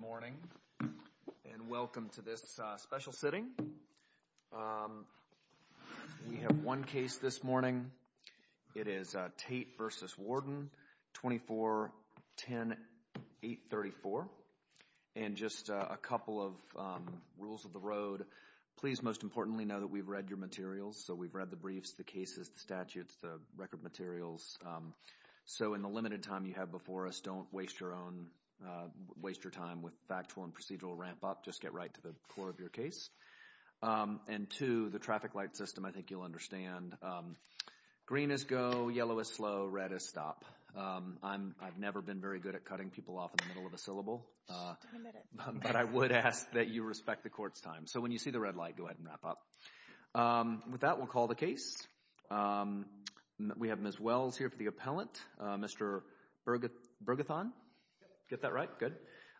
Good morning and welcome to this special sitting. We have one case this morning. It is Tate v. Warden, 24-10-834. And just a couple of rules of the road. Please most importantly know that we've read your materials. So we've read the briefs, the cases, the statutes, the record materials. So in the limited time you have before us, don't waste your time with factual and procedural ramp-up. Just get right to the core of your case. And two, the traffic light system, I think you'll understand. Green is go, yellow is slow, red is stop. I've never been very good at cutting people off in the middle of a syllable, but I would ask that you respect the court's time. So when you see the red light, go ahead and wrap up. With that, we'll call the case. We have Ms. Wells here for the appellant. Mr. Bergethon, get that right, good.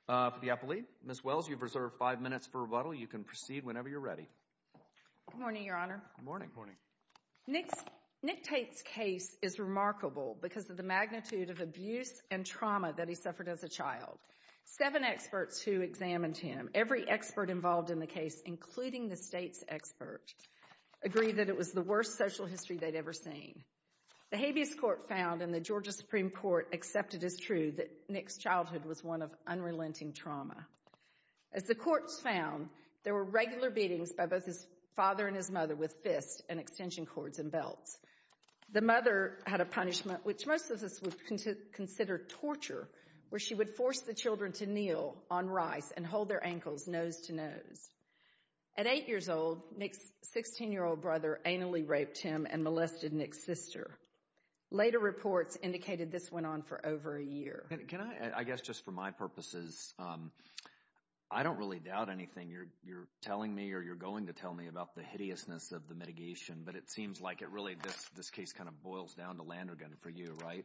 For the appellee, Ms. Wells, you've reserved five minutes for rebuttal. You can proceed whenever you're ready. Good morning, Your Honor. Good morning. Nick Tate's case is remarkable because of the magnitude of abuse and trauma that he suffered as a child. Seven experts who examined him, every expert involved in the case, including the state's expert, agreed that it was the worst social history they'd ever seen. The habeas court found and the Georgia Supreme Court accepted as true that Nick's childhood was one of unrelenting trauma. As the courts found, there were regular beatings by both his father and his mother with fists and extension cords and belts. The mother had a punishment, which most of us would consider torture, where she would force the children to kneel on rice and hold their ankles nose to nose. At eight years old, Nick's 16-year-old brother anally raped him and molested Nick's sister. Later reports indicated this went on for over a year. Can I, I guess just for my purposes, I don't really doubt anything you're telling me or you're going to tell me about the hideousness of the mitigation, but it seems like it really, this case kind of boils down to Landergan for you, right?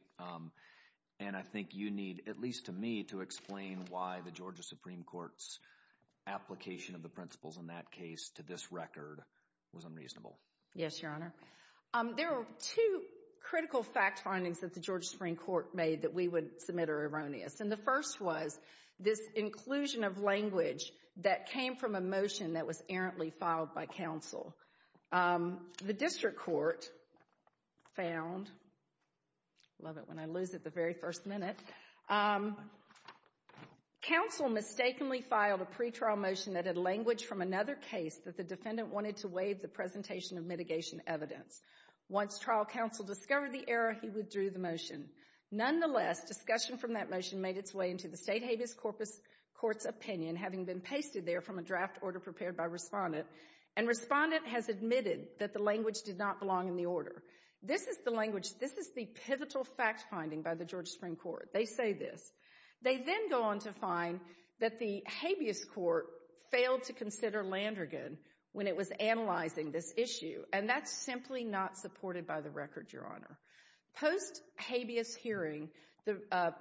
And I think you need, at least to me, to explain why the Georgia Supreme Court's application of the principles in that case to this record was unreasonable. Yes, Your Honor. There were two critical fact findings that the Georgia Supreme Court made that we would submit are erroneous. And the first was this inclusion of language that came from a motion that was errantly filed by counsel. The district court found, love it when I lose it the very first minute, counsel mistakenly filed a pretrial motion that had language from another case that the Once trial counsel discovered the error, he withdrew the motion. Nonetheless, discussion from that motion made its way into the state habeas corpus court's opinion, having been pasted there from a draft order prepared by respondent. And respondent has admitted that the language did not belong in the order. This is the language, this is the pivotal fact finding by the Georgia Supreme Court. They say this. They then go on to find that the habeas court failed to consider by the record, Your Honor. Post habeas hearing, the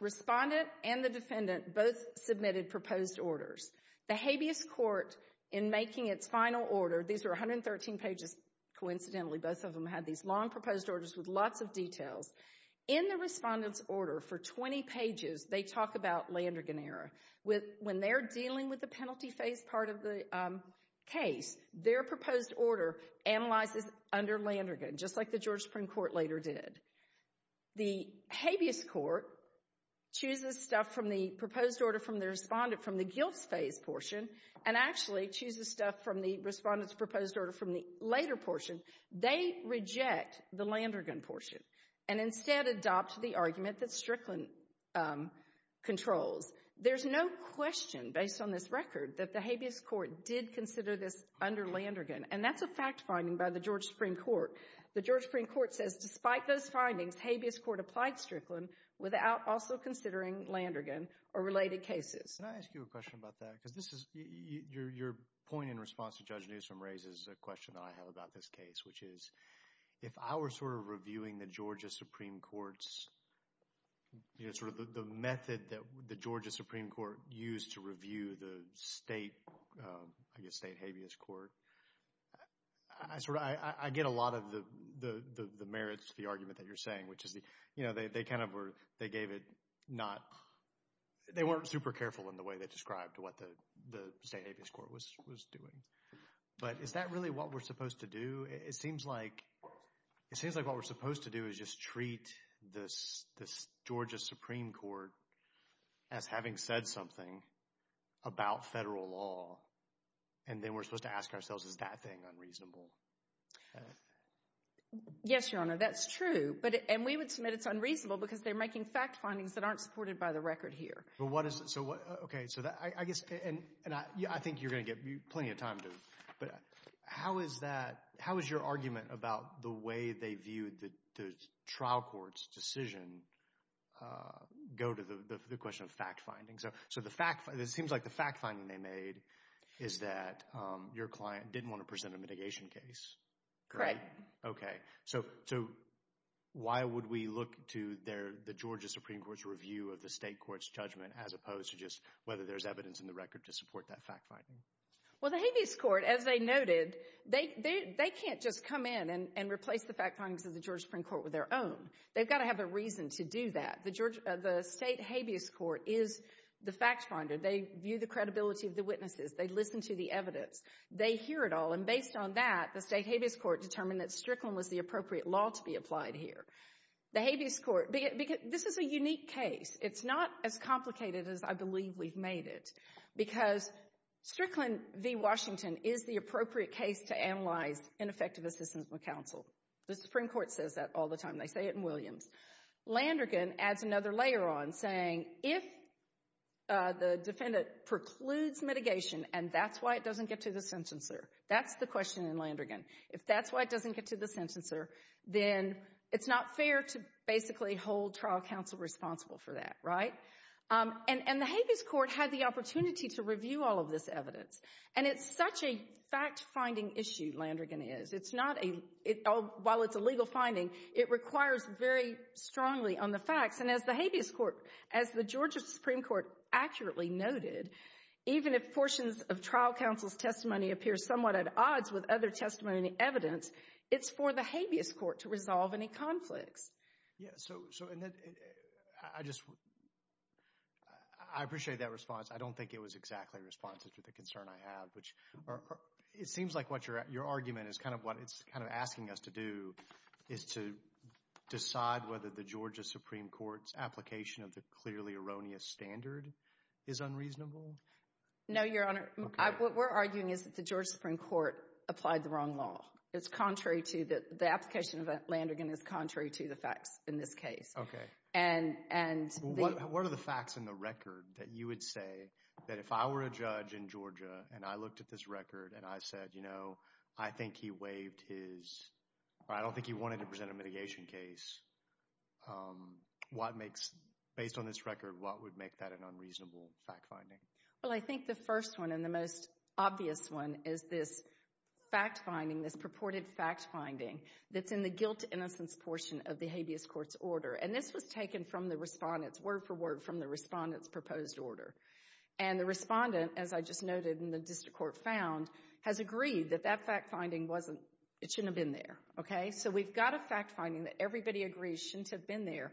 respondent and the defendant both submitted proposed orders. The habeas court, in making its final order, these were 113 pages. Coincidentally, both of them had these long proposed orders with lots of details. In the respondent's order for 20 pages, they talk about Landrigan error. When they're dealing with the penalty phase part of the case, their proposed order analyzes under Landrigan, just like the Georgia Supreme Court later did. The habeas court chooses stuff from the proposed order from the respondent from the guilt phase portion and actually chooses stuff from the respondent's proposed order from the later portion. They reject the Landrigan portion and instead adopt the argument that Strickland controls. There's no question, based on this record, that the habeas court did consider this under Landrigan. That's a fact finding by the Georgia Supreme Court. The Georgia Supreme Court says despite those findings, habeas court applied Strickland without also considering Landrigan or related cases. Can I ask you a question about that? Your point in response to Judge Newsom raises a question that I have about this case, which is if I were reviewing the Georgia Supreme Court's, you know, sort of the method that the Georgia Supreme Court used to review the state, I guess, state habeas court, I get a lot of the merits of the argument that you're saying, which is, you know, they kind of were, they gave it not, they weren't super careful in the way they described what the state habeas court was doing. But is that really what we're supposed to do? It seems like, it seems like what we're supposed to do is just treat this, this Georgia Supreme Court as having said something about federal law and then we're supposed to ask ourselves, is that thing unreasonable? Yes, your honor, that's true. But, and we would submit it's unreasonable because they're making fact findings that aren't supported by the record here. But what is, so what, okay, so that, I guess, and, and I, yeah, I think you're going to get plenty of time to, but how is that, how is your argument about the way they viewed the, the trial court's decision go to the, the question of fact findings? So, so the fact, it seems like the fact finding they made is that your client didn't want to present a mitigation case. Correct. Okay, so, so why would we look to their, the Georgia Supreme Court's review of the state court's judgment as opposed to just whether there's evidence in the record to support that fact finding? Well, the habeas court, as they noted, they, they, they can't just come in and, and replace the fact findings of the Georgia Supreme Court with their own. They've got to have a reason to do that. The Georgia, the state habeas court is the fact finder. They view the credibility of the witnesses. They listen to the evidence. They hear it all. And based on that, the state habeas court determined that Strickland was the appropriate law to be applied here. The habeas court, because this is a unique case. It's not as complicated as I believe we've made it. Because Strickland v. Washington is the appropriate case to analyze ineffective assistance with counsel. The Supreme Court says that all the time. They say it in Williams. Landergan adds another layer on, saying if the defendant precludes mitigation and that's why it doesn't get to the sentencer, that's the question in Landergan. If that's why it doesn't get to the sentencer, then it's not fair to basically hold trial counsel responsible for that, right? And, the habeas court had the opportunity to review all of this evidence. And it's such a fact finding issue, Landergan is. While it's a legal finding, it requires very strongly on the facts. And as the habeas court, as the Georgia Supreme Court accurately noted, even if portions of trial counsel's testimony appear somewhat at odds with other testimony evidence, it's for the habeas I don't think it was exactly responsive to the concern I have. It seems like your argument is kind of what it's asking us to do, is to decide whether the Georgia Supreme Court's application of the clearly erroneous standard is unreasonable. No, Your Honor. What we're arguing is that the Georgia Supreme Court applied the wrong law. The application of Landergan is contrary to the facts in this case. Okay. What are the facts in the record that you would say that if I were a judge in Georgia and I looked at this record and I said, you know, I think he waived his, I don't think he wanted to present a mitigation case, what makes, based on this record, what would make that an unreasonable fact finding? Well, I think the first one and the most obvious one is this fact finding, this purported fact finding that's in the guilt innocence portion of the habeas court's order. And this was taken from the respondent's, word for word, from the respondent's proposed order. And the respondent, as I just noted in the district court found, has agreed that that fact finding wasn't, it shouldn't have been there. Okay. So we've got a fact finding that everybody agrees shouldn't have been there.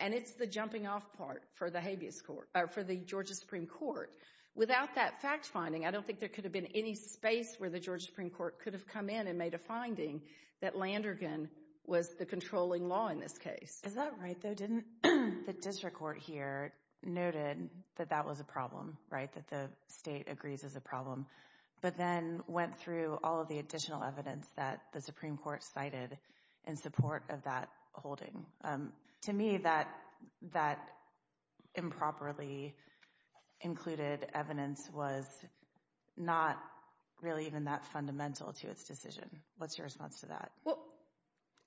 And it's the jumping off part for the habeas court, for the Georgia Supreme Court. Without that fact finding, I don't think there could have been any space where the made a finding that Landergan was the controlling law in this case. Is that right though? Didn't the district court here noted that that was a problem, right? That the state agrees is a problem, but then went through all of the additional evidence that the Supreme Court cited in support of that holding. To me, that improperly included evidence was not really even that fundamental to its decision. What's your response to that? Well,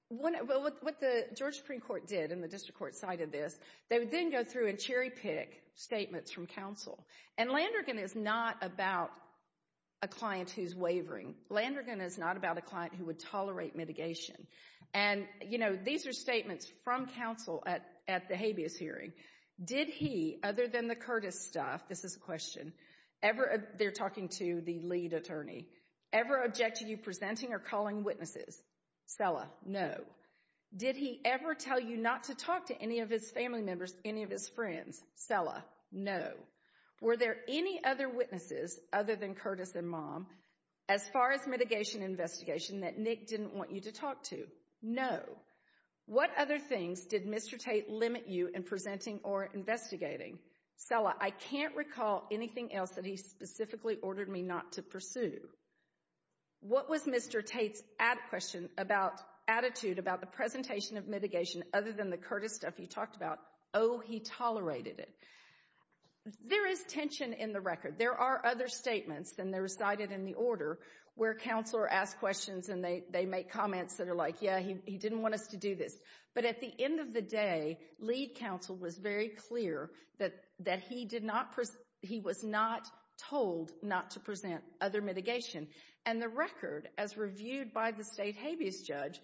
what the Georgia Supreme Court did, and the district court cited this, they would then go through and cherry pick statements from counsel. And Landergan is not about a client who's wavering. Landergan is not about a client who would tolerate mitigation. And, you know, these are statements from counsel at the habeas hearing. Did he, other than the Curtis stuff, this is a question, ever, they're talking to the lead attorney, ever object to you presenting or calling witnesses? Cella, no. Did he ever tell you not to talk to any of his family members, any of his friends? Cella, no. Were there any other witnesses, other than Curtis and mom, as far as mitigation investigation that Nick didn't want you to talk to? No. What other things did Mr. Tate limit you in presenting or investigating? Cella, I can't recall anything else that he specifically ordered me not to pursue. What was Mr. Tate's attitude about the presentation of mitigation, other than the Curtis stuff he talked about? Oh, he tolerated it. There is tension in the record. There are other statements, and they're recited in the order, where counsel are asked questions, and they make comments that are like, yeah, he didn't want us to do this. But at the end of the day, lead counsel was very clear that he was not told not to present other mitigation. And the record, as reviewed by the state habeas judge,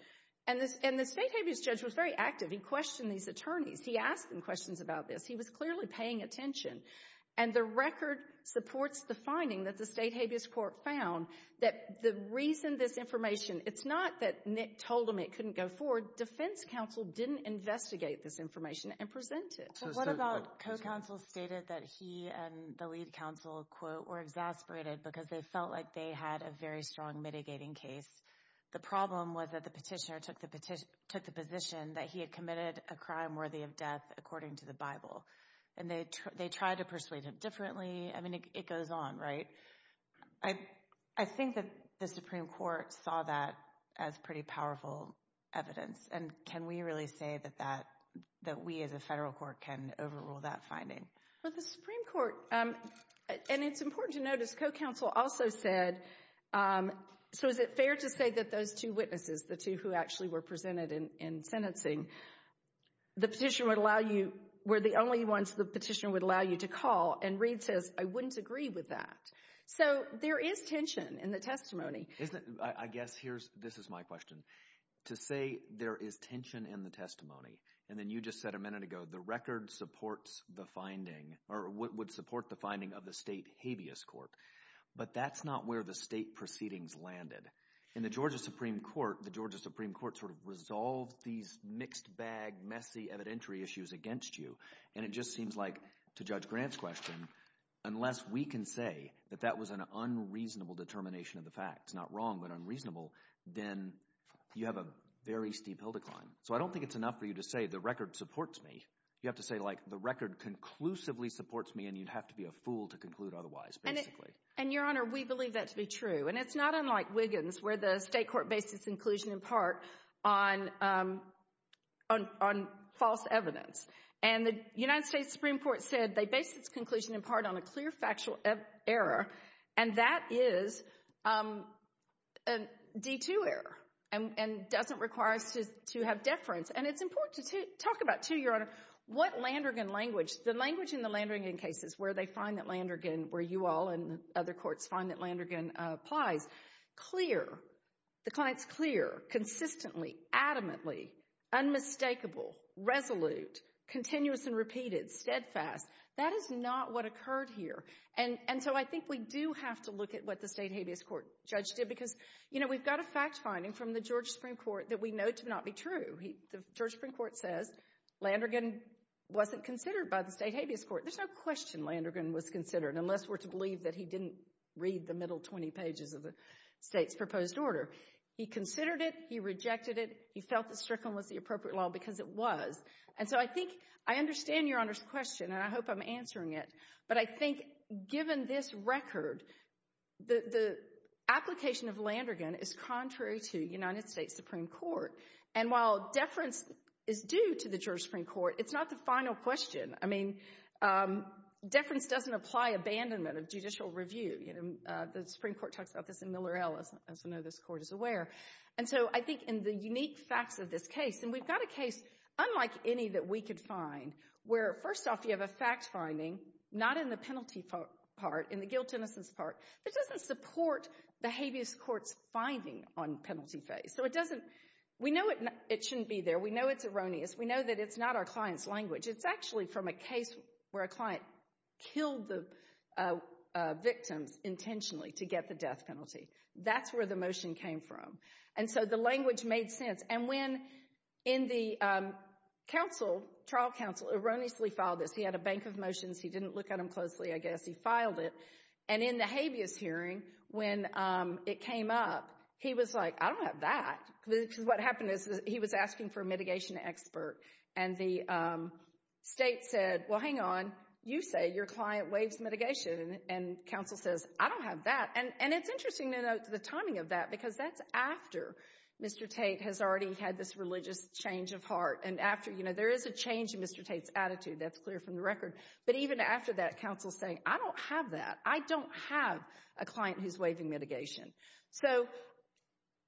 and the state habeas judge was very active. He questioned these attorneys. He asked them questions about this. He was clearly paying attention. And the record supports the finding that the state habeas court found that the reason this information, it's not that Nick told him it couldn't go forward. Defense counsel didn't investigate this information and present it. What about co-counsel stated that he and the lead counsel, quote, were exasperated because they felt like they had a very strong mitigating case. The problem was that the petitioner took the position that he had committed a crime worthy of death, according to the Bible. And they tried to persuade him differently. I mean, it goes on, right? I think that the Supreme Court saw that as pretty powerful evidence. And can we really say that we as a federal court can overrule that finding? Well, the Supreme Court, and it's important to notice, co-counsel also said, so is it fair to say that those two witnesses, the two who actually were presented in sentencing, the petitioner would allow you, were the only ones the petitioner would allow you to call? And Reed says, I wouldn't agree with that. So there is tension in the testimony. I guess here's, this is my question. To say there is tension in the testimony, and then you just said a minute ago, the record supports the finding, or would support the finding of the state habeas court. But that's not where the state proceedings landed. In the Georgia Supreme Court, the Georgia Supreme Court sort of resolved these mixed bag, messy evidentiary issues against you. And it just seems like, to Judge Grant's question, unless we can say that that was an unreasonable determination of the facts, not wrong, but unreasonable, then you have a very steep hill to climb. So I don't think it's enough for you to say the record supports me. You have to say, like, the record conclusively supports me, and you'd have to be a fool to conclude otherwise, basically. And Your Honor, we believe that to be true. And it's not unlike Wiggins, where the state court based its conclusion in part on false evidence. And the United States Supreme Court said they based its conclusion in part on a clear factual error, and that is a D2 error, and doesn't require us to have deference. And it's important to talk about, too, Your Honor, what Landergan language, the language in the Landergan cases, where they find that Landergan, where you all and other courts find that Landergan applies, clear, the client's clear, consistently, adamantly, unmistakable, resolute, continuous and repeated, steadfast, that is not what occurred here. And so I think we do have to look at what the state habeas court judge did, because, you know, we've got a fact finding from the George Supreme Court that we know to not be true. The George Supreme Court says Landergan wasn't considered by the state habeas court. There's no question Landergan was considered, unless we're to believe that he didn't read the middle 20 pages of the state's proposed order. He considered it, he rejected it, he felt that Strickland was the appropriate law because it was. And so I think, I understand Your Honor's question, and I hope I'm answering it, but I think given this record, the application of Landergan is contrary to the United States Supreme Court. And while deference is due to the George Supreme Court, it's not the final question. I mean, deference doesn't apply abandonment of judicial review. You know, the Supreme Court talks about this in Miller L, as we know this Court is aware. And so I think in the unique facts of this case, and we've got a case unlike any that we could find, where first off you have a fact finding, not in the penalty part, in the guilt-innocence part, that doesn't support the habeas court's finding on penalty phase. So it doesn't, we know it shouldn't be there. We know it's erroneous. We know that it's not our client's language. It's actually from a case where a client killed the victims intentionally to get the death penalty. That's where the motion came from. And so the language made sense. And when, in the counsel, trial counsel, erroneously filed this. He had a bank of motions. He didn't look at them closely, I guess. He filed it. And in the habeas hearing, when it came up, he was like, I don't have that. Because what happened he was asking for a mitigation expert. And the state said, well, hang on. You say your client waives mitigation. And counsel says, I don't have that. And it's interesting to note the timing of that, because that's after Mr. Tate has already had this religious change of heart. And after, you know, there is a change in Mr. Tate's attitude. That's clear from the record. But even after that, counsel's saying, I don't have that. I don't have a client who's waiving mitigation. So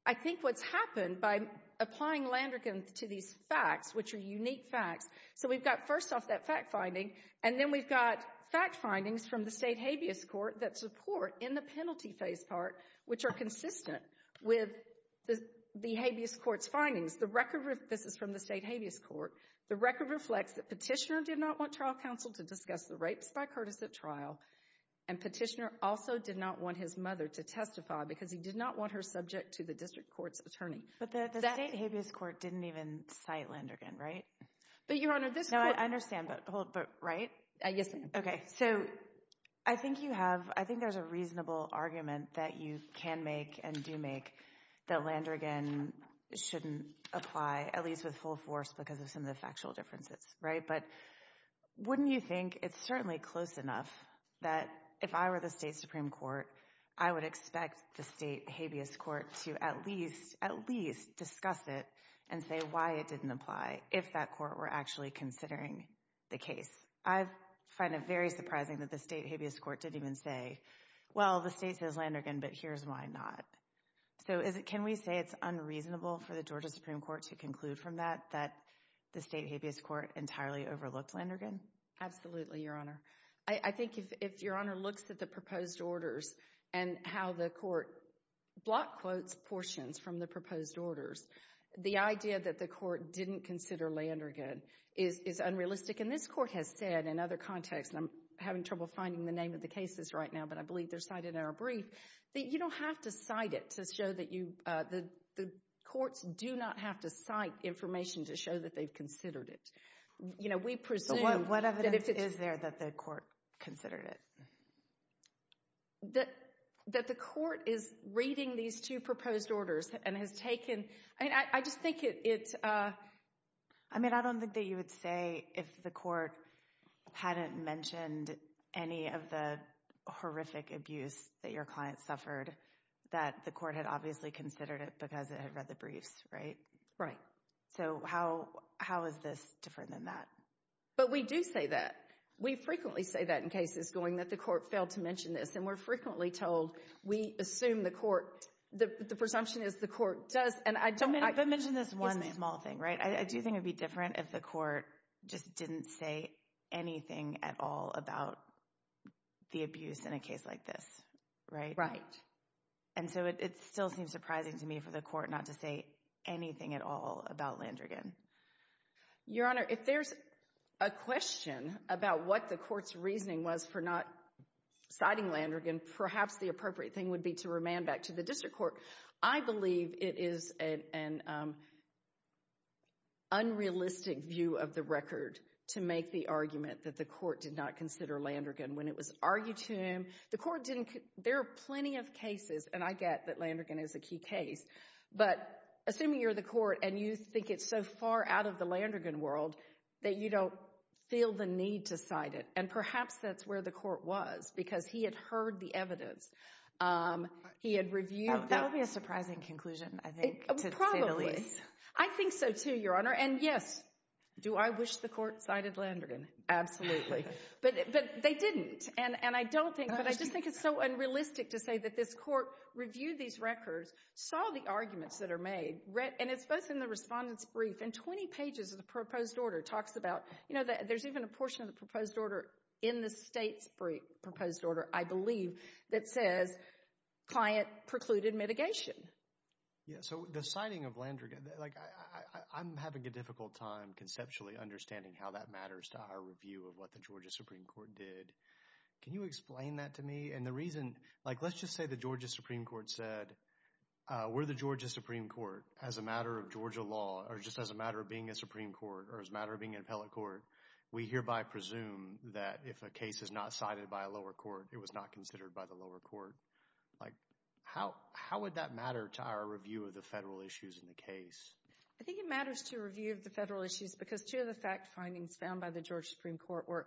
I think what's happened by applying Landrigan to these facts, which are unique facts. So we've got first off that fact finding. And then we've got fact findings from the state habeas court that support in the penalty phase part, which are consistent with the habeas court's findings. The record, this is from the state habeas court. The record reflects that petitioner did not want trial counsel to discuss the rapes by Curtis at trial. And petitioner also did not want his mother to testify, because he did not want her subject to the district court's attorney. But the state habeas court didn't even cite Landrigan, right? But Your Honor, this court... No, I understand. But hold, but right? Yes, ma'am. Okay. So I think you have, I think there's a reasonable argument that you can make and do make that Landrigan shouldn't apply, at least with full force, because of some of the factual differences, right? But wouldn't you think it's certainly close enough that if I were the state Supreme Court, I would expect the state habeas court to at least, at least discuss it and say why it didn't apply if that court were actually considering the case? I find it very surprising that the state habeas court didn't even say, well, the state says Landrigan, but here's why not. So can we say it's unreasonable for the Georgia Supreme Court to conclude from that, that the state habeas court entirely overlooked Landrigan? Absolutely, Your Honor. I think if Your Honor looks at the proposed orders and how the court block quotes portions from the proposed orders, the idea that the court didn't consider Landrigan is unrealistic. And this court has said in other contexts, and I'm having trouble finding the name of the cases right now, but I believe they're cited in our brief, that you don't have to cite it to show that you, the courts do not have to cite information to show that they've considered it. You know, we presume. What evidence is there that the court considered it? That the court is reading these two proposed orders and has taken, I mean, I just think it's. I mean, I don't think that you would say if the court hadn't mentioned any of the horrific abuse that your client suffered, that the court had obviously considered it because it had read the that. But we do say that we frequently say that in cases going that the court failed to mention this. And we're frequently told we assume the court, the presumption is the court does. And I don't, I mentioned this one small thing, right? I do think it'd be different if the court just didn't say anything at all about the abuse in a case like this, right? Right. And so it still seems surprising to me for the court not to say anything at all about Landrigan. Your Honor, if there's a question about what the court's reasoning was for not citing Landrigan, perhaps the appropriate thing would be to remand back to the district court. I believe it is an unrealistic view of the record to make the argument that the court did not consider Landrigan when it was argued to him. The court didn't, there are plenty of cases, and I get that Landrigan is a key case, but assuming you're the court and you think it's so far out of the Landrigan world that you don't feel the need to cite it. And perhaps that's where the court was because he had heard the evidence. He had reviewed. That would be a surprising conclusion, I think. Probably. I think so too, Your Honor. And yes, do I wish the court cited Landrigan? Absolutely. But they didn't. And I don't think, but I just think it's so unrealistic to say that this court reviewed these records, saw the arguments that are made, and it's both in the respondent's brief and 20 pages of the proposed order talks about, you know, there's even a portion of the proposed order in the state's proposed order, I believe, that says client precluded mitigation. Yeah, so the citing of Landrigan, like I'm having a difficult time conceptually understanding how that matters to our review of what the Georgia Supreme Court did. Can you explain that to me? And the reason, like, let's just say the Georgia Supreme Court said, we're the Georgia Supreme Court. As a matter of Georgia law, or just as a matter of being a Supreme Court, or as a matter of being an appellate court, we hereby presume that if a case is not cited by a lower court, it was not considered by the lower court. Like, how would that matter to our review of the federal issues in the case? I think it matters to review of the federal issues because two of the fact findings found by the Georgia Supreme Court were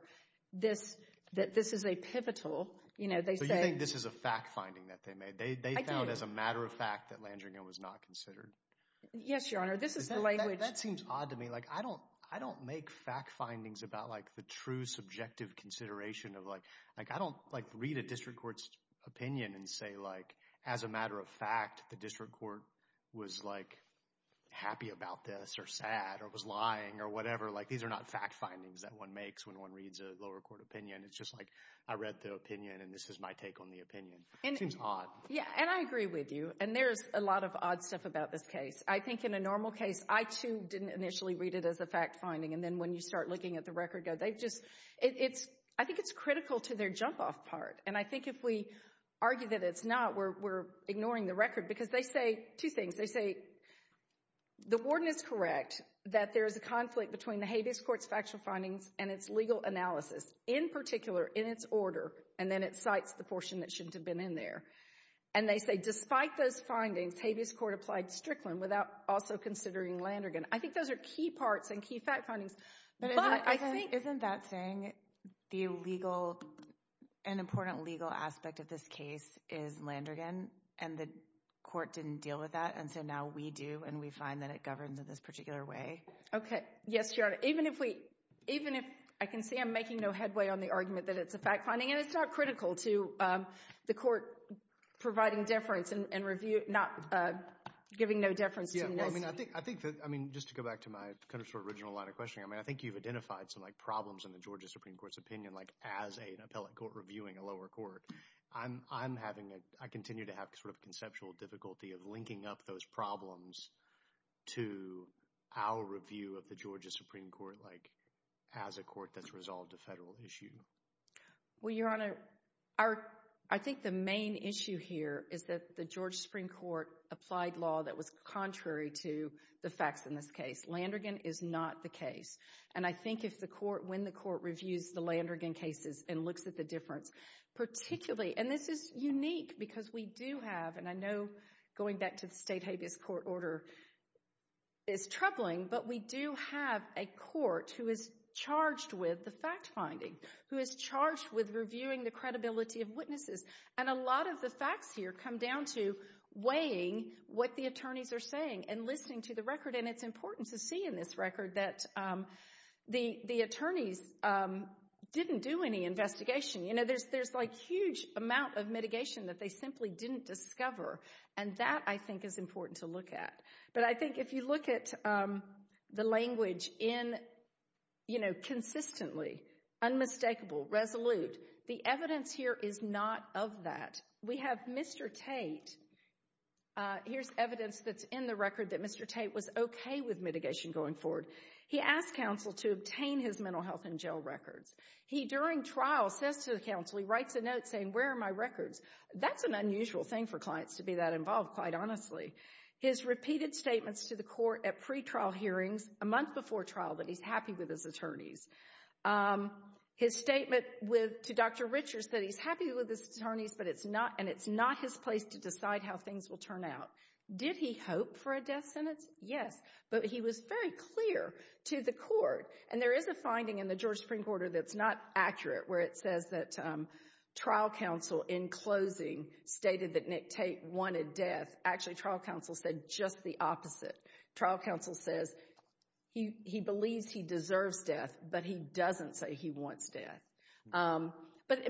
this, that this is a pivotal, you know, they say. So you think this is a fact finding that they made? They found as a matter of fact that Landrigan was not considered? Yes, your honor. This is the language. That seems odd to me. Like, I don't, I don't make fact findings about, like, the true subjective consideration of, like, like, I don't, like, read a district court's opinion and say, like, as a matter of fact, the district court was, like, happy about this or sad or was lying or whatever. Like, these are not fact findings that one makes when one reads a lower court opinion. It's just like, I read the opinion and this is my take on the opinion. It seems odd. Yeah, and I agree with you, and there's a lot of odd stuff about this case. I think in a normal case, I, too, didn't initially read it as a fact finding, and then when you start looking at the record, they just, it's, I think it's critical to their And I think if we argue that it's not, we're, we're ignoring the record because they say two things. They say the warden is correct that there is a conflict between the habeas court's factual findings and its legal analysis, in particular, in its order, and then it cites the portion that shouldn't have been in there. And they say, despite those findings, habeas court applied Strickland without also considering Landrigan. I think those are key parts and key fact findings. But isn't that saying the legal, an important legal aspect of this case is Landrigan, and the court didn't deal with that, and so now we do, and we find that it governs in this particular way. Okay, yes, Your Honor. Even if we, even if, I can see I'm making no headway on the argument that it's a fact finding, and it's not critical to the court providing deference and review, not giving no deference. Yeah, I mean, I think, I think that, I mean, just to go back to my kind of sort of original line of questioning, I mean, I think you've identified some, like, problems in the Georgia Supreme Court's opinion, like, as an appellate court reviewing a lower court. I'm, I'm having a, I continue to have sort of conceptual difficulty of linking up those problems to our review of the Georgia Supreme Court, like, as a court that's resolved a federal issue. Well, Your Honor, our, I think the main issue here is that the Georgia Supreme Court applied law that was contrary to the facts in this case. Landrigan is not the case, and I think if the court, when the court reviews the Landrigan cases and looks at the difference, particularly, and this is unique because we do have, and I know going back to the state habeas court order is troubling, but we do have a court who is charged with the fact finding, who is charged with reviewing the credibility of witnesses, and a lot of the facts here come down to weighing what the attorneys are saying and listening to the record, and it's important to see in this record that the, the attorneys didn't do any investigation. You know, there's, there's, like, huge amount of mitigation that they simply didn't discover, and that, I think, is important to look at, but I think if you look at the language in, you know, consistently, unmistakable, resolute, the evidence here is not of that. We have Mr. Tate, here's evidence that's in the record that Mr. Tate was okay with mitigation going forward. He asked counsel to obtain his mental health in jail records. He, during trial, says to the counsel, he writes a note saying, where are my records? That's an unusual thing for clients to be that involved, quite honestly. His repeated statements to the court at pretrial hearings, a month before trial, that he's happy with his attorneys. His statement with, to Dr. Richards, that he's happy with his attorneys, but it's not, and it's not his place to decide how things will turn out. Did he hope for a death sentence? Yes, but he was very clear to the court, and there is a finding in the Georgia Supreme Court that's not accurate, where it says that trial counsel, in closing, stated that Nick Tate wanted death. Actually, trial counsel said just the opposite. Trial counsel says he believes he deserves death, but he doesn't say he wants death. But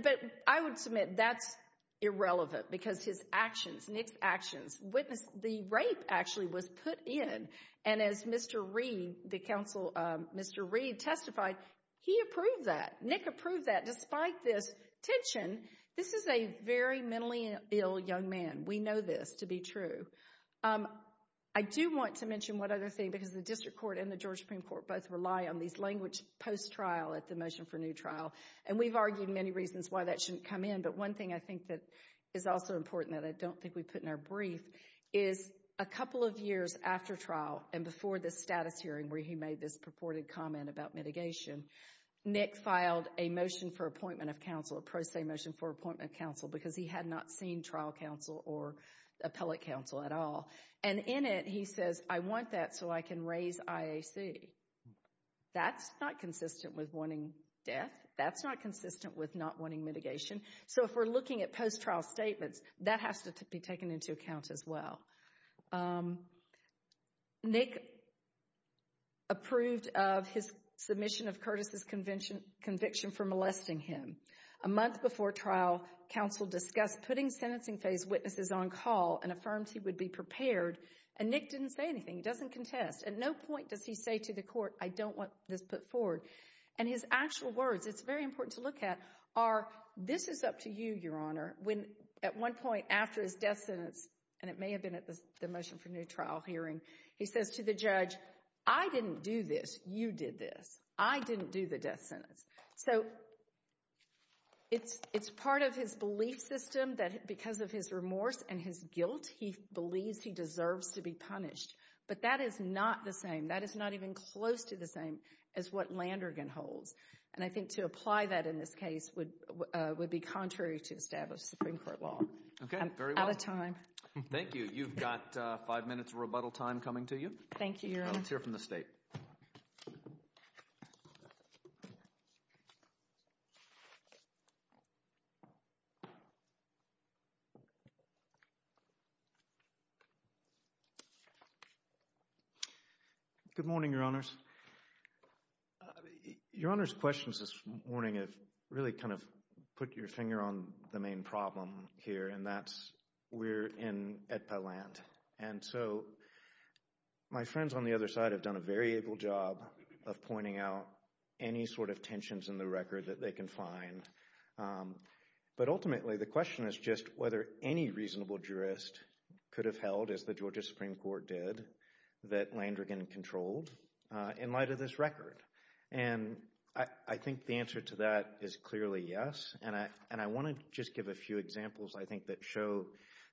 I would submit that's irrelevant, because his actions, Nick's actions, witness the rape actually was put in, and as Mr. Reed, the counsel, Mr. Reed testified, he approved that. Nick approved that, despite this tension. This is a very mentally ill young man. We know this to be true. I do want to mention one other thing, because the District Court and the Georgia Supreme Court both rely on these language post-trial at the motion for new trial, and we've argued many reasons why that shouldn't come in, but one thing I think that is also important that I don't think we put in our brief, is a couple of years after trial, and before the status hearing, where he made this purported comment about mitigation, Nick filed a motion for appointment of counsel, a pro se motion for appointment of counsel, because he had not seen trial counsel or appellate counsel at all, and in it he says, I want that so I can raise IAC. That's not consistent with wanting death. That's not consistent with not wanting mitigation. So if we're looking at post-trial statements, that has to be taken into account as well. Nick approved of his submission of Curtis's conviction for molesting him. A month before trial, counsel discussed putting sentencing phase witnesses on call and affirmed he would be prepared, and Nick didn't say anything. He doesn't contest. At no point does he say to the court, I don't want this put forward, and his actual words, it's very important to look at, are, this is up to you, your honor, when at one point after his death sentence, and it may have been at the motion for new trial hearing, he says to the judge, I didn't do this. You did this. I didn't do the death sentence. So it's part of his belief system that because of his remorse and his guilt, he believes he deserves to be punished, but that is not the same. That is not even close to the same as what Landergan holds, and I think to apply that in this case would be contrary to established Supreme Court law. Okay, very well. I'm out of time. Thank you. You've got five minutes of rebuttal time coming to you. Thank you, your honor. Let's hear from the state. Good morning, your honors. Your honor's questions this morning have really kind of put your finger on the main problem here, and that's we're in Edpa land, and so my friends on the other side have done a very able job of pointing out any sort of tensions in the record that they can find, but ultimately the question is just whether any reasonable jurist could have held as the Georgia Supreme Court did that Landergan controlled in light of this record, and I think the answer to that is clearly yes, and I want to just give a few examples I think that show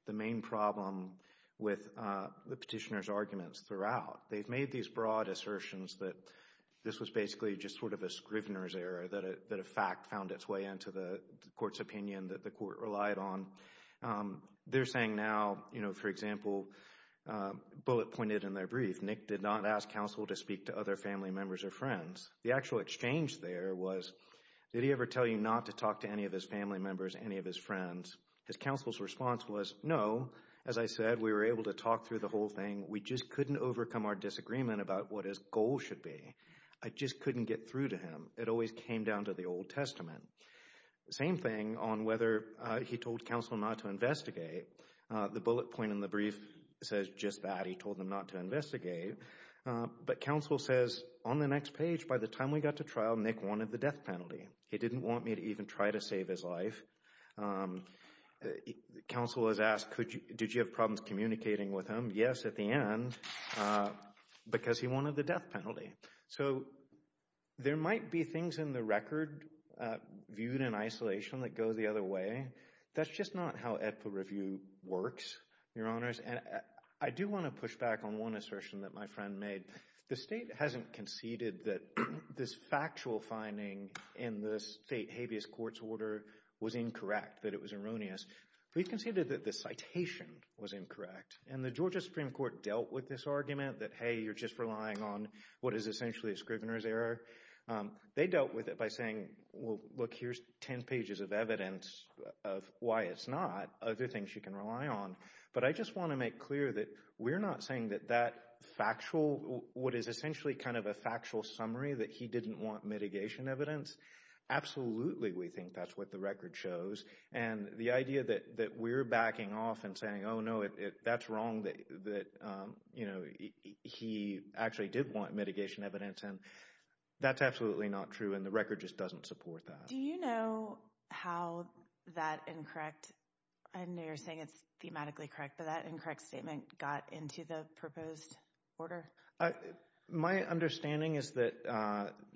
the main problem with the petitioner's arguments throughout. They've made these broad assertions that this was basically just sort of a Scrivener's error, that a fact found its way into the court's opinion that the court relied on. They're saying now, you know, for example, Bullitt pointed in their brief, Nick did not ask counsel to speak to other family members or friends. The actual exchange there was did he ever tell you not to talk to any of his family members, any of his friends? His counsel's response was no. As I said, we were able to talk through the whole thing. We just couldn't overcome our disagreement about what his goal should be. I just couldn't get through to him. It always came down to the Old Testament. Same thing on whether he told counsel not to investigate. The Bullitt point in the brief says just that. He told them not to investigate, but counsel says on the next page, by the time we got to trial, Nick wanted the death penalty. He didn't want me to even try to save his life. Counsel has asked, did you have problems communicating with him? Yes, at the end, because he wanted the death penalty. So, there might be things in the record viewed in isolation that go the other way. That's just not how ETFA review works, Your Honors. I do want to push back on one assertion that my friend made. The state hasn't conceded that this factual finding in the state habeas courts order was incorrect, that it was erroneous. We've conceded that the citation was incorrect, and the Georgia Supreme Court dealt with this argument that, hey, you're just relying on what is essentially a error. They dealt with it by saying, well, look, here's 10 pages of evidence of why it's not. Other things you can rely on. But I just want to make clear that we're not saying that that factual, what is essentially kind of a factual summary, that he didn't want mitigation evidence. Absolutely, we think that's what the record shows. And the idea that we're backing off and saying, no, that's wrong, that he actually did want mitigation evidence. And that's absolutely not true, and the record just doesn't support that. Do you know how that incorrect, I know you're saying it's thematically correct, but that incorrect statement got into the proposed order? My understanding is that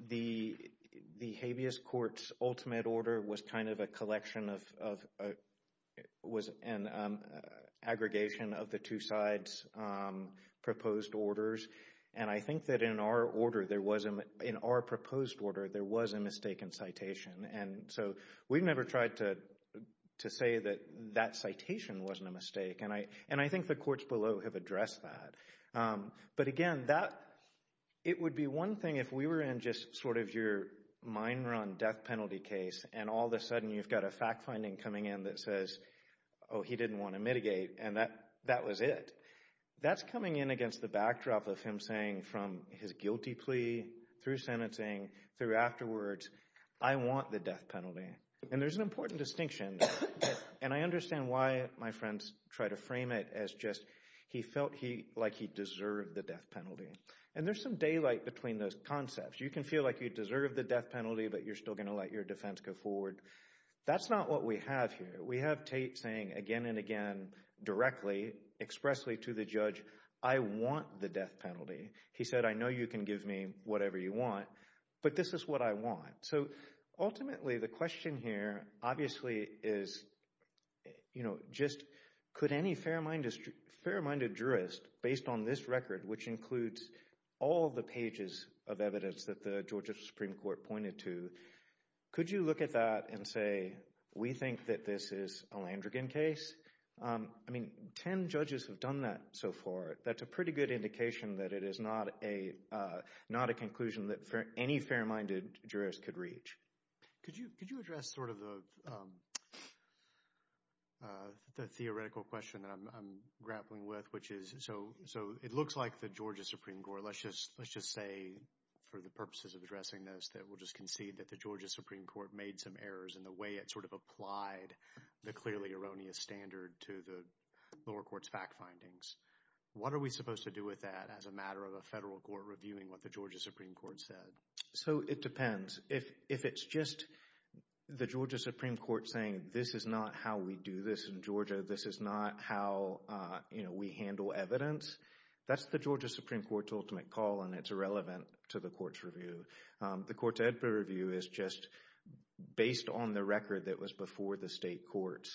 the habeas courts ultimate order was kind of a collection of, it was an aggregation of the two sides' proposed orders. And I think that in our order, there was, in our proposed order, there was a mistaken citation. And so we've never tried to say that that citation wasn't a mistake. And I think the courts below have addressed that. But again, it would be one thing if we were in just sort of your mine run death penalty case, and all of a coming in that says, oh, he didn't want to mitigate, and that was it. That's coming in against the backdrop of him saying from his guilty plea, through sentencing, through afterwards, I want the death penalty. And there's an important distinction. And I understand why my friends try to frame it as just, he felt like he deserved the death penalty. And there's some daylight between those concepts. You can feel like you deserve the death penalty, but you're still going to let your defense go forward. That's not what we have here. We have Tate saying again and again, directly, expressly to the judge, I want the death penalty. He said, I know you can give me whatever you want, but this is what I want. So ultimately, the question here obviously is, you know, just could any fair-minded jurist, based on this record, which includes all the pages of evidence that the Georgia Supreme Court pointed to, could you look at that and say, we think that this is a Landrigan case? I mean, 10 judges have done that so far. That's a pretty good indication that it is not a conclusion that any fair-minded jurist could reach. Could you address sort of the theoretical question that I'm grappling with, which is, so it looks like the Georgia Supreme Court, let's just say for the purposes of addressing this, that we'll just concede that the Georgia Supreme Court made some errors in the way it sort of applied the clearly erroneous standard to the lower court's fact findings. What are we supposed to do with that as a matter of a federal court reviewing what the Georgia Supreme Court said? So it depends. If it's just the Georgia Supreme Court saying, this is not how we do this in Georgia, this is not how, you know, we handle evidence, that's the Georgia Supreme Court's ultimate call, and it's irrelevant to the court's review. The court's editor review is just based on the record that was before the state courts.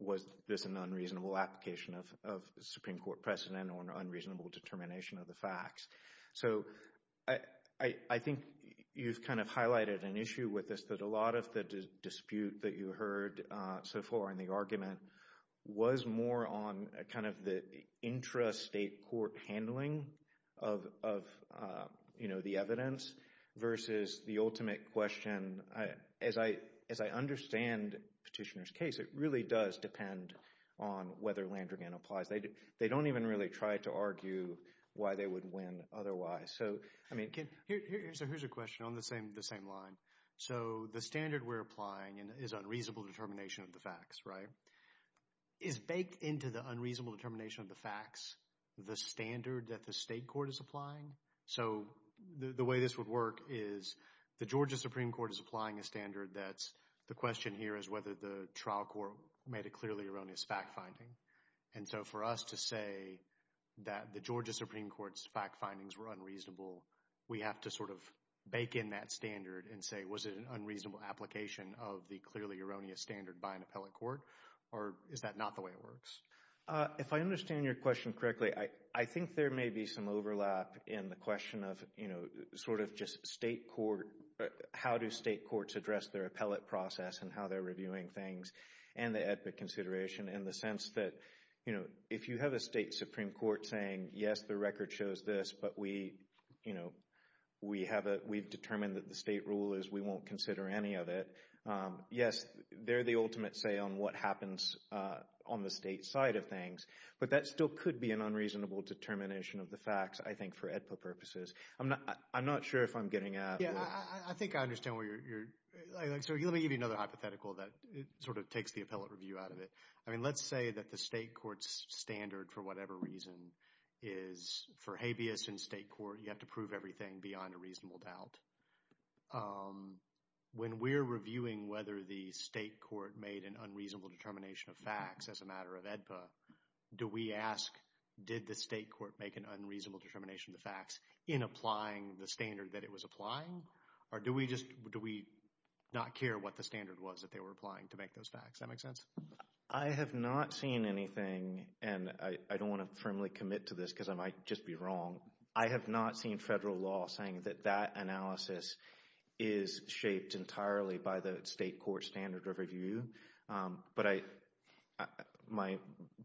Was this an unreasonable application of Supreme Court precedent or an unreasonable determination of the facts? So I think you've kind of highlighted an issue with this, that a lot of the dispute that you heard so far in the argument was more on kind of the intra-state court handling of, you know, the evidence versus the ultimate question. As I understand Petitioner's case, it really does depend on whether Landrigan applies. They don't even really try to argue why they would win otherwise. So, I mean, here's a question on the same line. So the standard we're applying is unreasonable determination of the facts, right? Is baked into the unreasonable determination of the facts the standard that the state court is applying? So the way this would work is the Georgia Supreme Court is applying a standard that's, the question here is whether the trial court made it clearly erroneous fact-finding. And so for us to say that the Georgia Supreme Court's fact-findings were unreasonable, we have to sort of bake in that standard and say, was it an unreasonable application of the clearly erroneous standard by an appellate court? Or is that not the way it works? If I understand your question correctly, I think there may be some overlap in the question of, you know, sort of just state court, how do state courts address their appellate process and how they're reviewing things and the epic consideration in the sense that, you know, if you have a state Supreme Court saying, yes, the record shows this, but we, you know, we have a, we've determined that the state rule is, we won't consider any of it. Yes, they're the ultimate say on what happens on the state side of things, but that still could be an unreasonable determination of the facts, I think, for AEDPA purposes. I'm not, I'm not sure if I'm getting at. Yeah, I think I understand where you're, like, so let me give you another hypothetical that sort of takes the appellate review out of it. I mean, let's say that the state court's standard, for whatever reason, is for habeas in state court, you have to prove everything beyond a reasonable doubt. When we're reviewing whether the state court made an unreasonable determination of facts as a matter of AEDPA, do we ask, did the state court make an unreasonable determination of the facts in applying the standard that it was applying? Or do we just, do we not care what the standard was that they were applying to make those facts? That make sense? I have not seen anything, and I don't want to firmly commit to this because I might just be wrong. I have not seen federal law saying that that analysis is shaped entirely by the state court standard of review. But I, my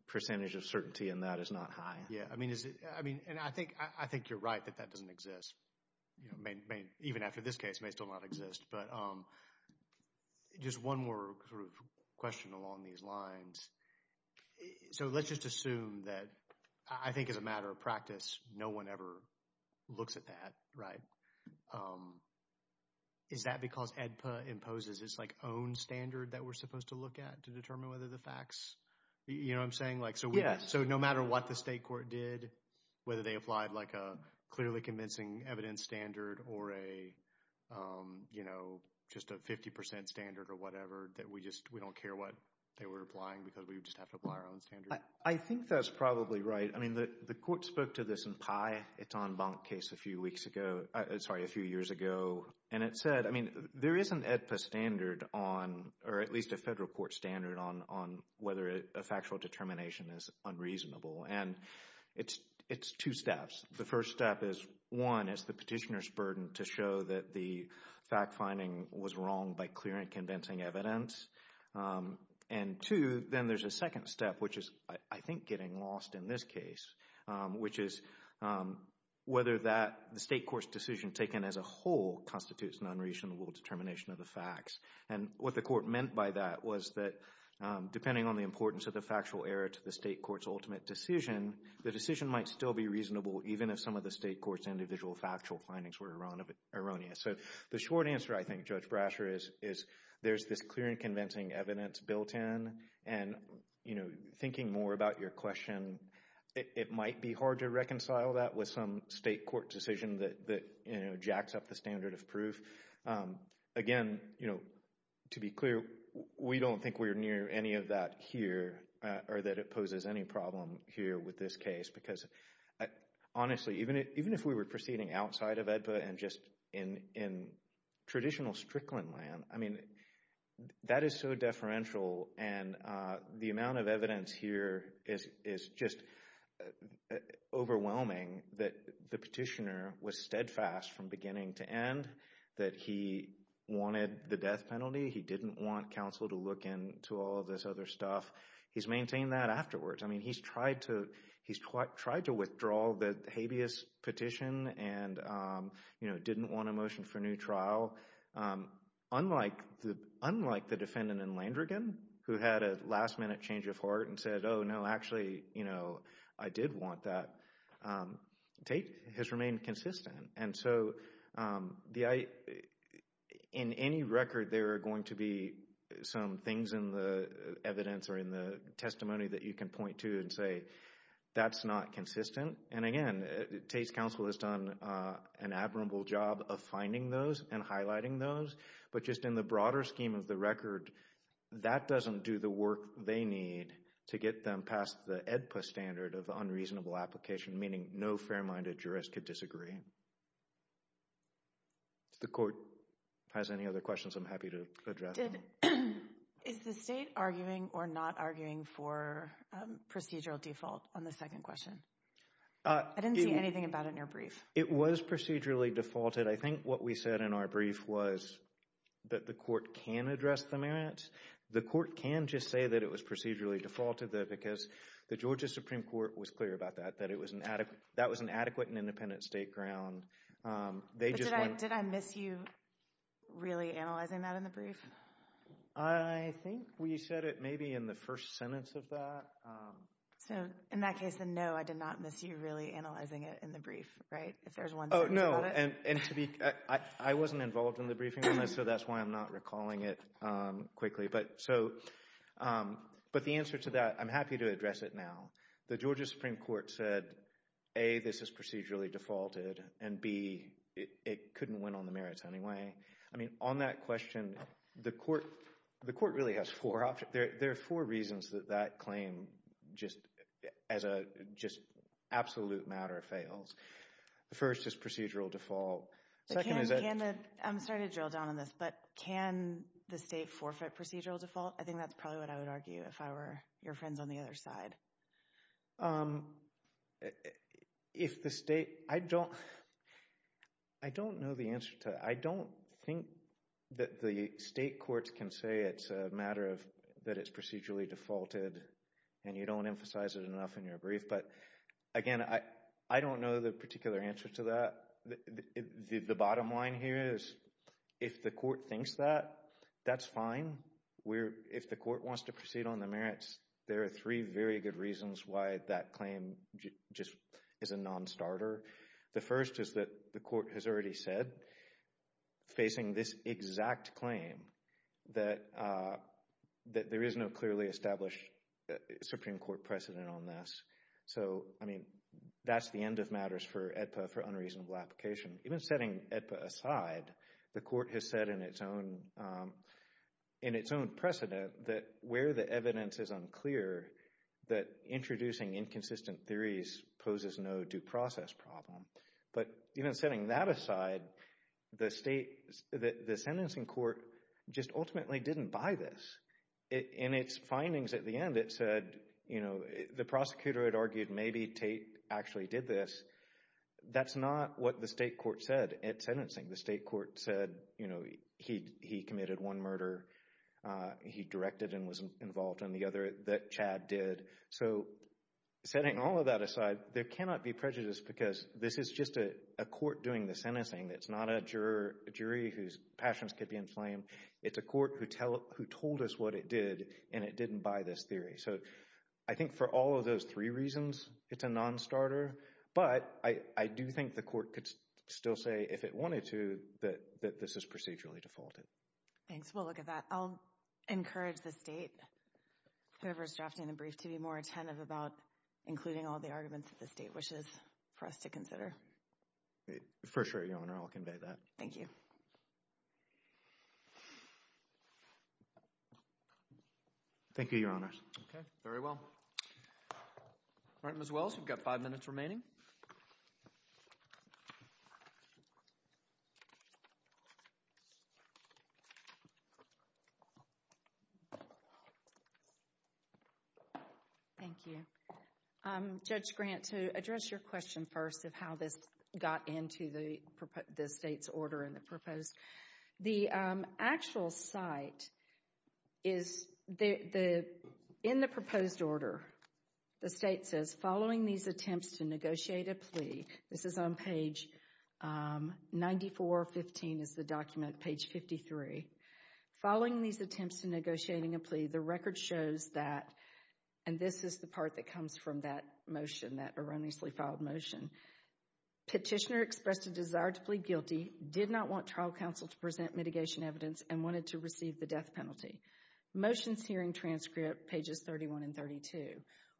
percentage of certainty in that is not high. Yeah, I mean, is it, I mean, and I think, I think you're right that that doesn't exist. You know, may, may, even after this case, may still not exist. But just one more sort of question along these lines. So, let's just assume that, I think, as a matter of practice, no one ever looks at that, right? Is that because AEDPA imposes its like own standard that we're supposed to look at to determine whether the facts, you know what I'm saying? Like, so no matter what the state court did, whether they applied like a clearly convincing evidence standard or a, you know, just a 50% standard or whatever, that we just, we don't care what they were applying because we just have to apply our own standard? I think that's probably right. I mean, the court spoke to this in Pi, it's en banc case a few weeks ago, sorry, a few years ago. And it said, I mean, there is an AEDPA standard on, or at least a federal court standard on, on whether a factual determination is unreasonable. And it's, it's two steps. The petitioner's burden to show that the fact finding was wrong by clear and convincing evidence. And two, then there's a second step, which is, I think, getting lost in this case, which is whether that the state court's decision taken as a whole constitutes an unreasonable determination of the facts. And what the court meant by that was that depending on the importance of the factual error to the state court's ultimate decision, the decision might still be reasonable, even if some of the state court's individual factual findings were erroneous. So the short answer, I think, Judge Brasher, is, is there's this clear and convincing evidence built in. And, you know, thinking more about your question, it might be hard to reconcile that with some state court decision that, you know, jacks up the standard of proof. Again, you know, to be clear, we don't think we're near any of that here, or that it poses any problem here with this case, because honestly, even if we were proceeding outside of AEDPA and just in traditional Strickland land, I mean, that is so deferential. And the amount of evidence here is just overwhelming that the petitioner was steadfast from beginning to end, that he wanted the death penalty. He didn't want counsel to look into all of this other stuff. He's maintained that afterwards. I mean, he's tried to withdraw the habeas petition and, you know, didn't want a motion for new trial. Unlike the defendant in Landrigan, who had a last-minute change of heart and said, oh, no, actually, you know, I did want that, Tate has remained consistent. And so, the, in any record, there are going to be some things in the evidence or in the testimony that you can point to and say, that's not consistent. And again, Tate's counsel has done an admirable job of finding those and highlighting those. But just in the broader scheme of the record, that doesn't do the work they need to get them past the AEDPA standard of unreasonable application, meaning no fair-minded jurist could disagree. If the court has any other questions, I'm happy to address them. Is the state arguing or not arguing for procedural default on the second question? I didn't see anything about it in your brief. It was procedurally defaulted. I think what we said in our brief was that the court can address the merits. The court can just say that it was procedurally defaulted, though, because the Georgia Supreme Court was clear about that, that it was an adequate, that was an adequate and independent state ground. Did I miss you really analyzing that in the brief? I think we said it maybe in the first sentence of that. So, in that case, then, no, I did not miss you really analyzing it in the brief, right? If there's one sentence about it. Oh, no, and to be, I wasn't involved in the briefing on this, so that's why I'm not recalling it quickly. But so, but the answer to that, I'm happy to address it now. The Georgia Supreme Court said, A, this is procedurally defaulted, and B, it couldn't win on the merits anyway. I mean, on that question, the court, the court really has four options. There are four reasons that that claim just as a just absolute matter fails. The first is procedural default. I'm sorry to drill down on this, but can the state forfeit procedural default? I think that's probably what I would argue if I were your friends on the other side. If the state, I don't, I don't know the answer to, I don't think that the state courts can say it's a matter of that it's procedurally defaulted, and you don't emphasize it enough in your brief. But again, I don't know the particular answer to that. The bottom line here is, if the court thinks that, that's fine. We're, if the court wants to proceed on the merits, there are three very good reasons why that claim just is a non-starter. The first is that the court has already said, facing this exact claim, that, that there is no clearly established Supreme Court precedent on this. So, I mean, that's the end of matters for AEDPA for unreasonable application. Even setting AEDPA aside, the court has said in its own, in its own precedent that where the evidence is unclear, that introducing inconsistent theories poses no due process problem. But even setting that aside, the state, the sentencing court just ultimately didn't buy this. In its findings at the end, it said, you know, the prosecutor had argued maybe Tate actually did this. That's not what the state court said at sentencing. The state court said, you know, he, he committed one murder. He directed and was involved in the other that Chad did. So setting all of that aside, there cannot be prejudice because this is just a court doing the sentencing. It's not a juror, a jury whose passions could be inflamed. It's a court who tell, who told us what it did, and it didn't buy this theory. So I think for all of those three reasons, it's a non-starter. But I, I do think the court could still say, if it wanted to, that, that this is procedurally defaulted. Thanks. We'll look at that. I'll encourage the state, whoever's drafting the brief, to be more attentive about including all the arguments that the state wishes for us to consider. For sure, Your Honor. I'll convey that. Thank you. Thank you, Your Honors. Okay. Very well. All right, Ms. Wells, we've got five minutes remaining. Thank you. Judge Grant, to address your question first of how this got into the state's order and the proposed, the actual site is the, in the proposed order, the state says, following these attempts to negotiate a plea, this is on page 94.15 is the document, page 53. Following these attempts to negotiating a plea, the record shows that, and this is the part that comes from that motion, that erroneously filed motion. Petitioner expressed a desire to plead guilty, did not want trial counsel to present mitigation evidence, and wanted to receive the death penalty. Motion's hearing transcript, pages 31 and 32.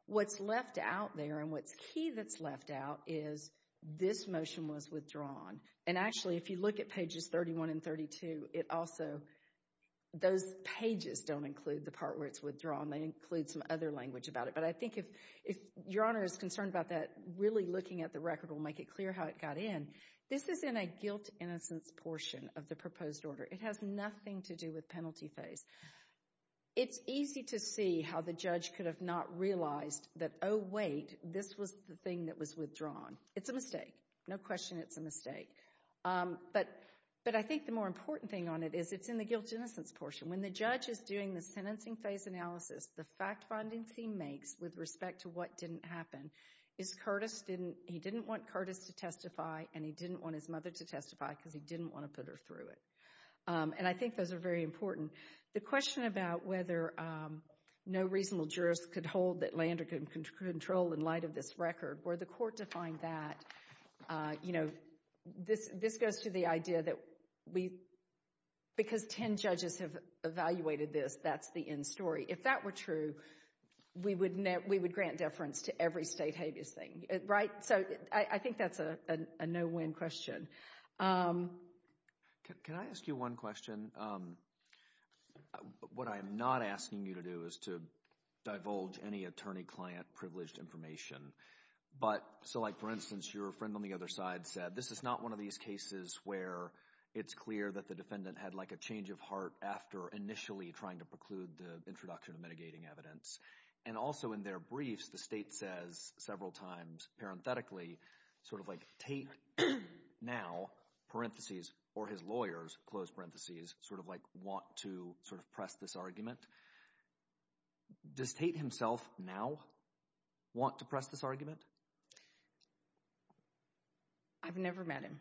What's left out there, and what's key that's left out, is this motion was withdrawn. And actually, if you look at pages 31 and 32, it also, those pages don't include the part where it's withdrawn. They include some other language about it. But I think if, if Your Honor is concerned about that, really looking at the record will make it clear how it got in. This is in a guilt innocence portion of the proposed order. It has nothing to do with penalty phase. It's easy to see how the judge could have not realized that, oh wait, this was the thing that was withdrawn. It's a mistake. No question it's a mistake. But, but I think the more important thing on it is, it's in the guilt innocence portion. When the judge is doing the sentencing phase analysis, the fact findings he makes with respect to what didn't happen, is Curtis didn't, he didn't want Curtis to testify, and he didn't want his mother to testify, because he didn't want to put her through it. And I think those are very important. The question about whether no reasonable jurist could hold that Lander could control in light of this record, where the court defined that, you know, this, this goes to the idea that we, because 10 judges have evaluated this, that's the end story. If that were true, we would grant deference to every state habeas thing, right? So I think that's a a no-win question. Can I ask you one question? What I'm not asking you to do is to divulge any attorney-client privileged information. But, so like for instance, your friend on the other side said, this is not one of these cases where it's clear that the defendant had like a change of heart after initially trying to preclude the introduction of mitigating evidence. And also in their briefs, the state says several times, parenthetically, sort of like Tate now, parentheses, or his lawyers, close parentheses, sort of like want to sort of press this argument. Does Tate himself now want to press this argument? I've never met him.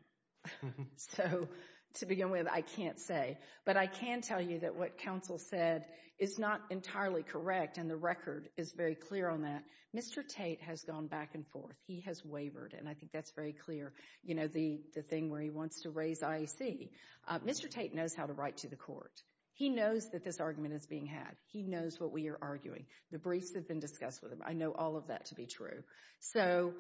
So to begin with, I can't say. But I can tell you that what counsel said is not entirely correct. And the record is very clear on that. Mr. Tate has gone back and forth. He has wavered. And I think that's very clear. You know, the thing where he wants to raise IEC. Mr. Tate knows how to write to the court. He knows that this argument is being had. He knows what we are arguing. The briefs have been discussed with him. I know all of that to be true. So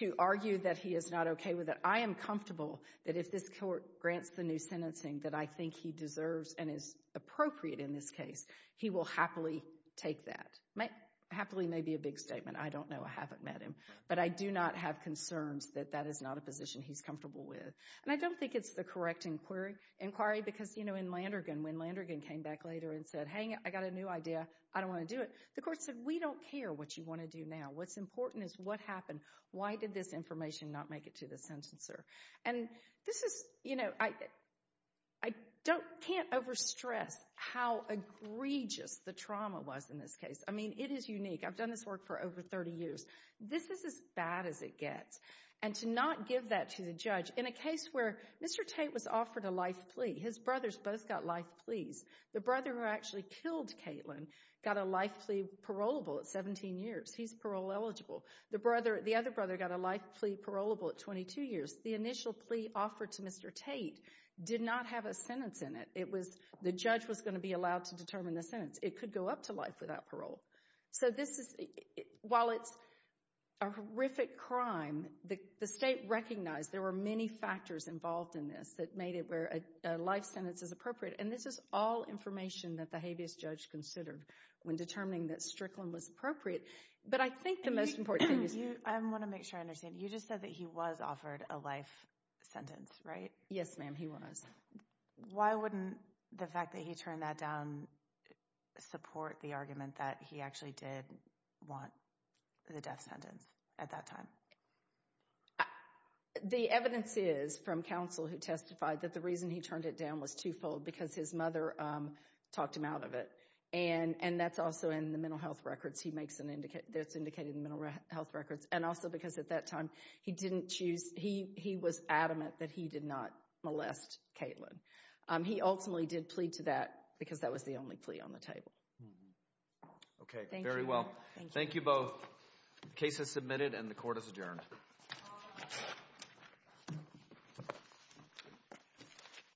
to argue that he is not okay with it, I am comfortable that if this court grants the sentencing that I think he deserves and is appropriate in this case, he will happily take that. Happily may be a big statement. I don't know. I haven't met him. But I do not have concerns that that is not a position he's comfortable with. And I don't think it's the correct inquiry because, you know, in Landergan, when Landergan came back later and said, hey, I got a new idea. I don't want to do it. The court said, we don't care what you want to do now. What's important is what happened. Why did this information not make it to the sentencer? And this is, you know, I can't overstress how egregious the trauma was in this case. I mean, it is unique. I've done this work for over 30 years. This is as bad as it gets. And to not give that to the judge in a case where Mr. Tate was offered a life plea. His brothers both got life pleas. The brother who actually killed Caitlin got a life plea parolable at 17 years. He's parole eligible. The brother, the other brother got a life plea parolable at 22 years. The initial plea offered to Mr. Tate did not have a sentence in it. It was, the judge was going to be allowed to determine the sentence. It could go up to life without parole. So this is, while it's a horrific crime, the state recognized there were many factors involved in this that made it where a life sentence is appropriate. And this all information that the habeas judge considered when determining that Strickland was appropriate. But I think the most important thing is... I want to make sure I understand. You just said that he was offered a life sentence, right? Yes, ma'am. He was. Why wouldn't the fact that he turned that down support the argument that he actually did want the death sentence at that time? The evidence is from counsel who testified that the reason he turned it down was twofold, because his mother talked him out of it. And that's also in the mental health records. He makes an indicate, that's indicated in mental health records. And also because at that time he didn't choose, he was adamant that he did not molest Caitlin. He ultimately did plea to that because that was the only plea on the table. Okay, very well. Thank you both. Case is submitted and the court is adjourned.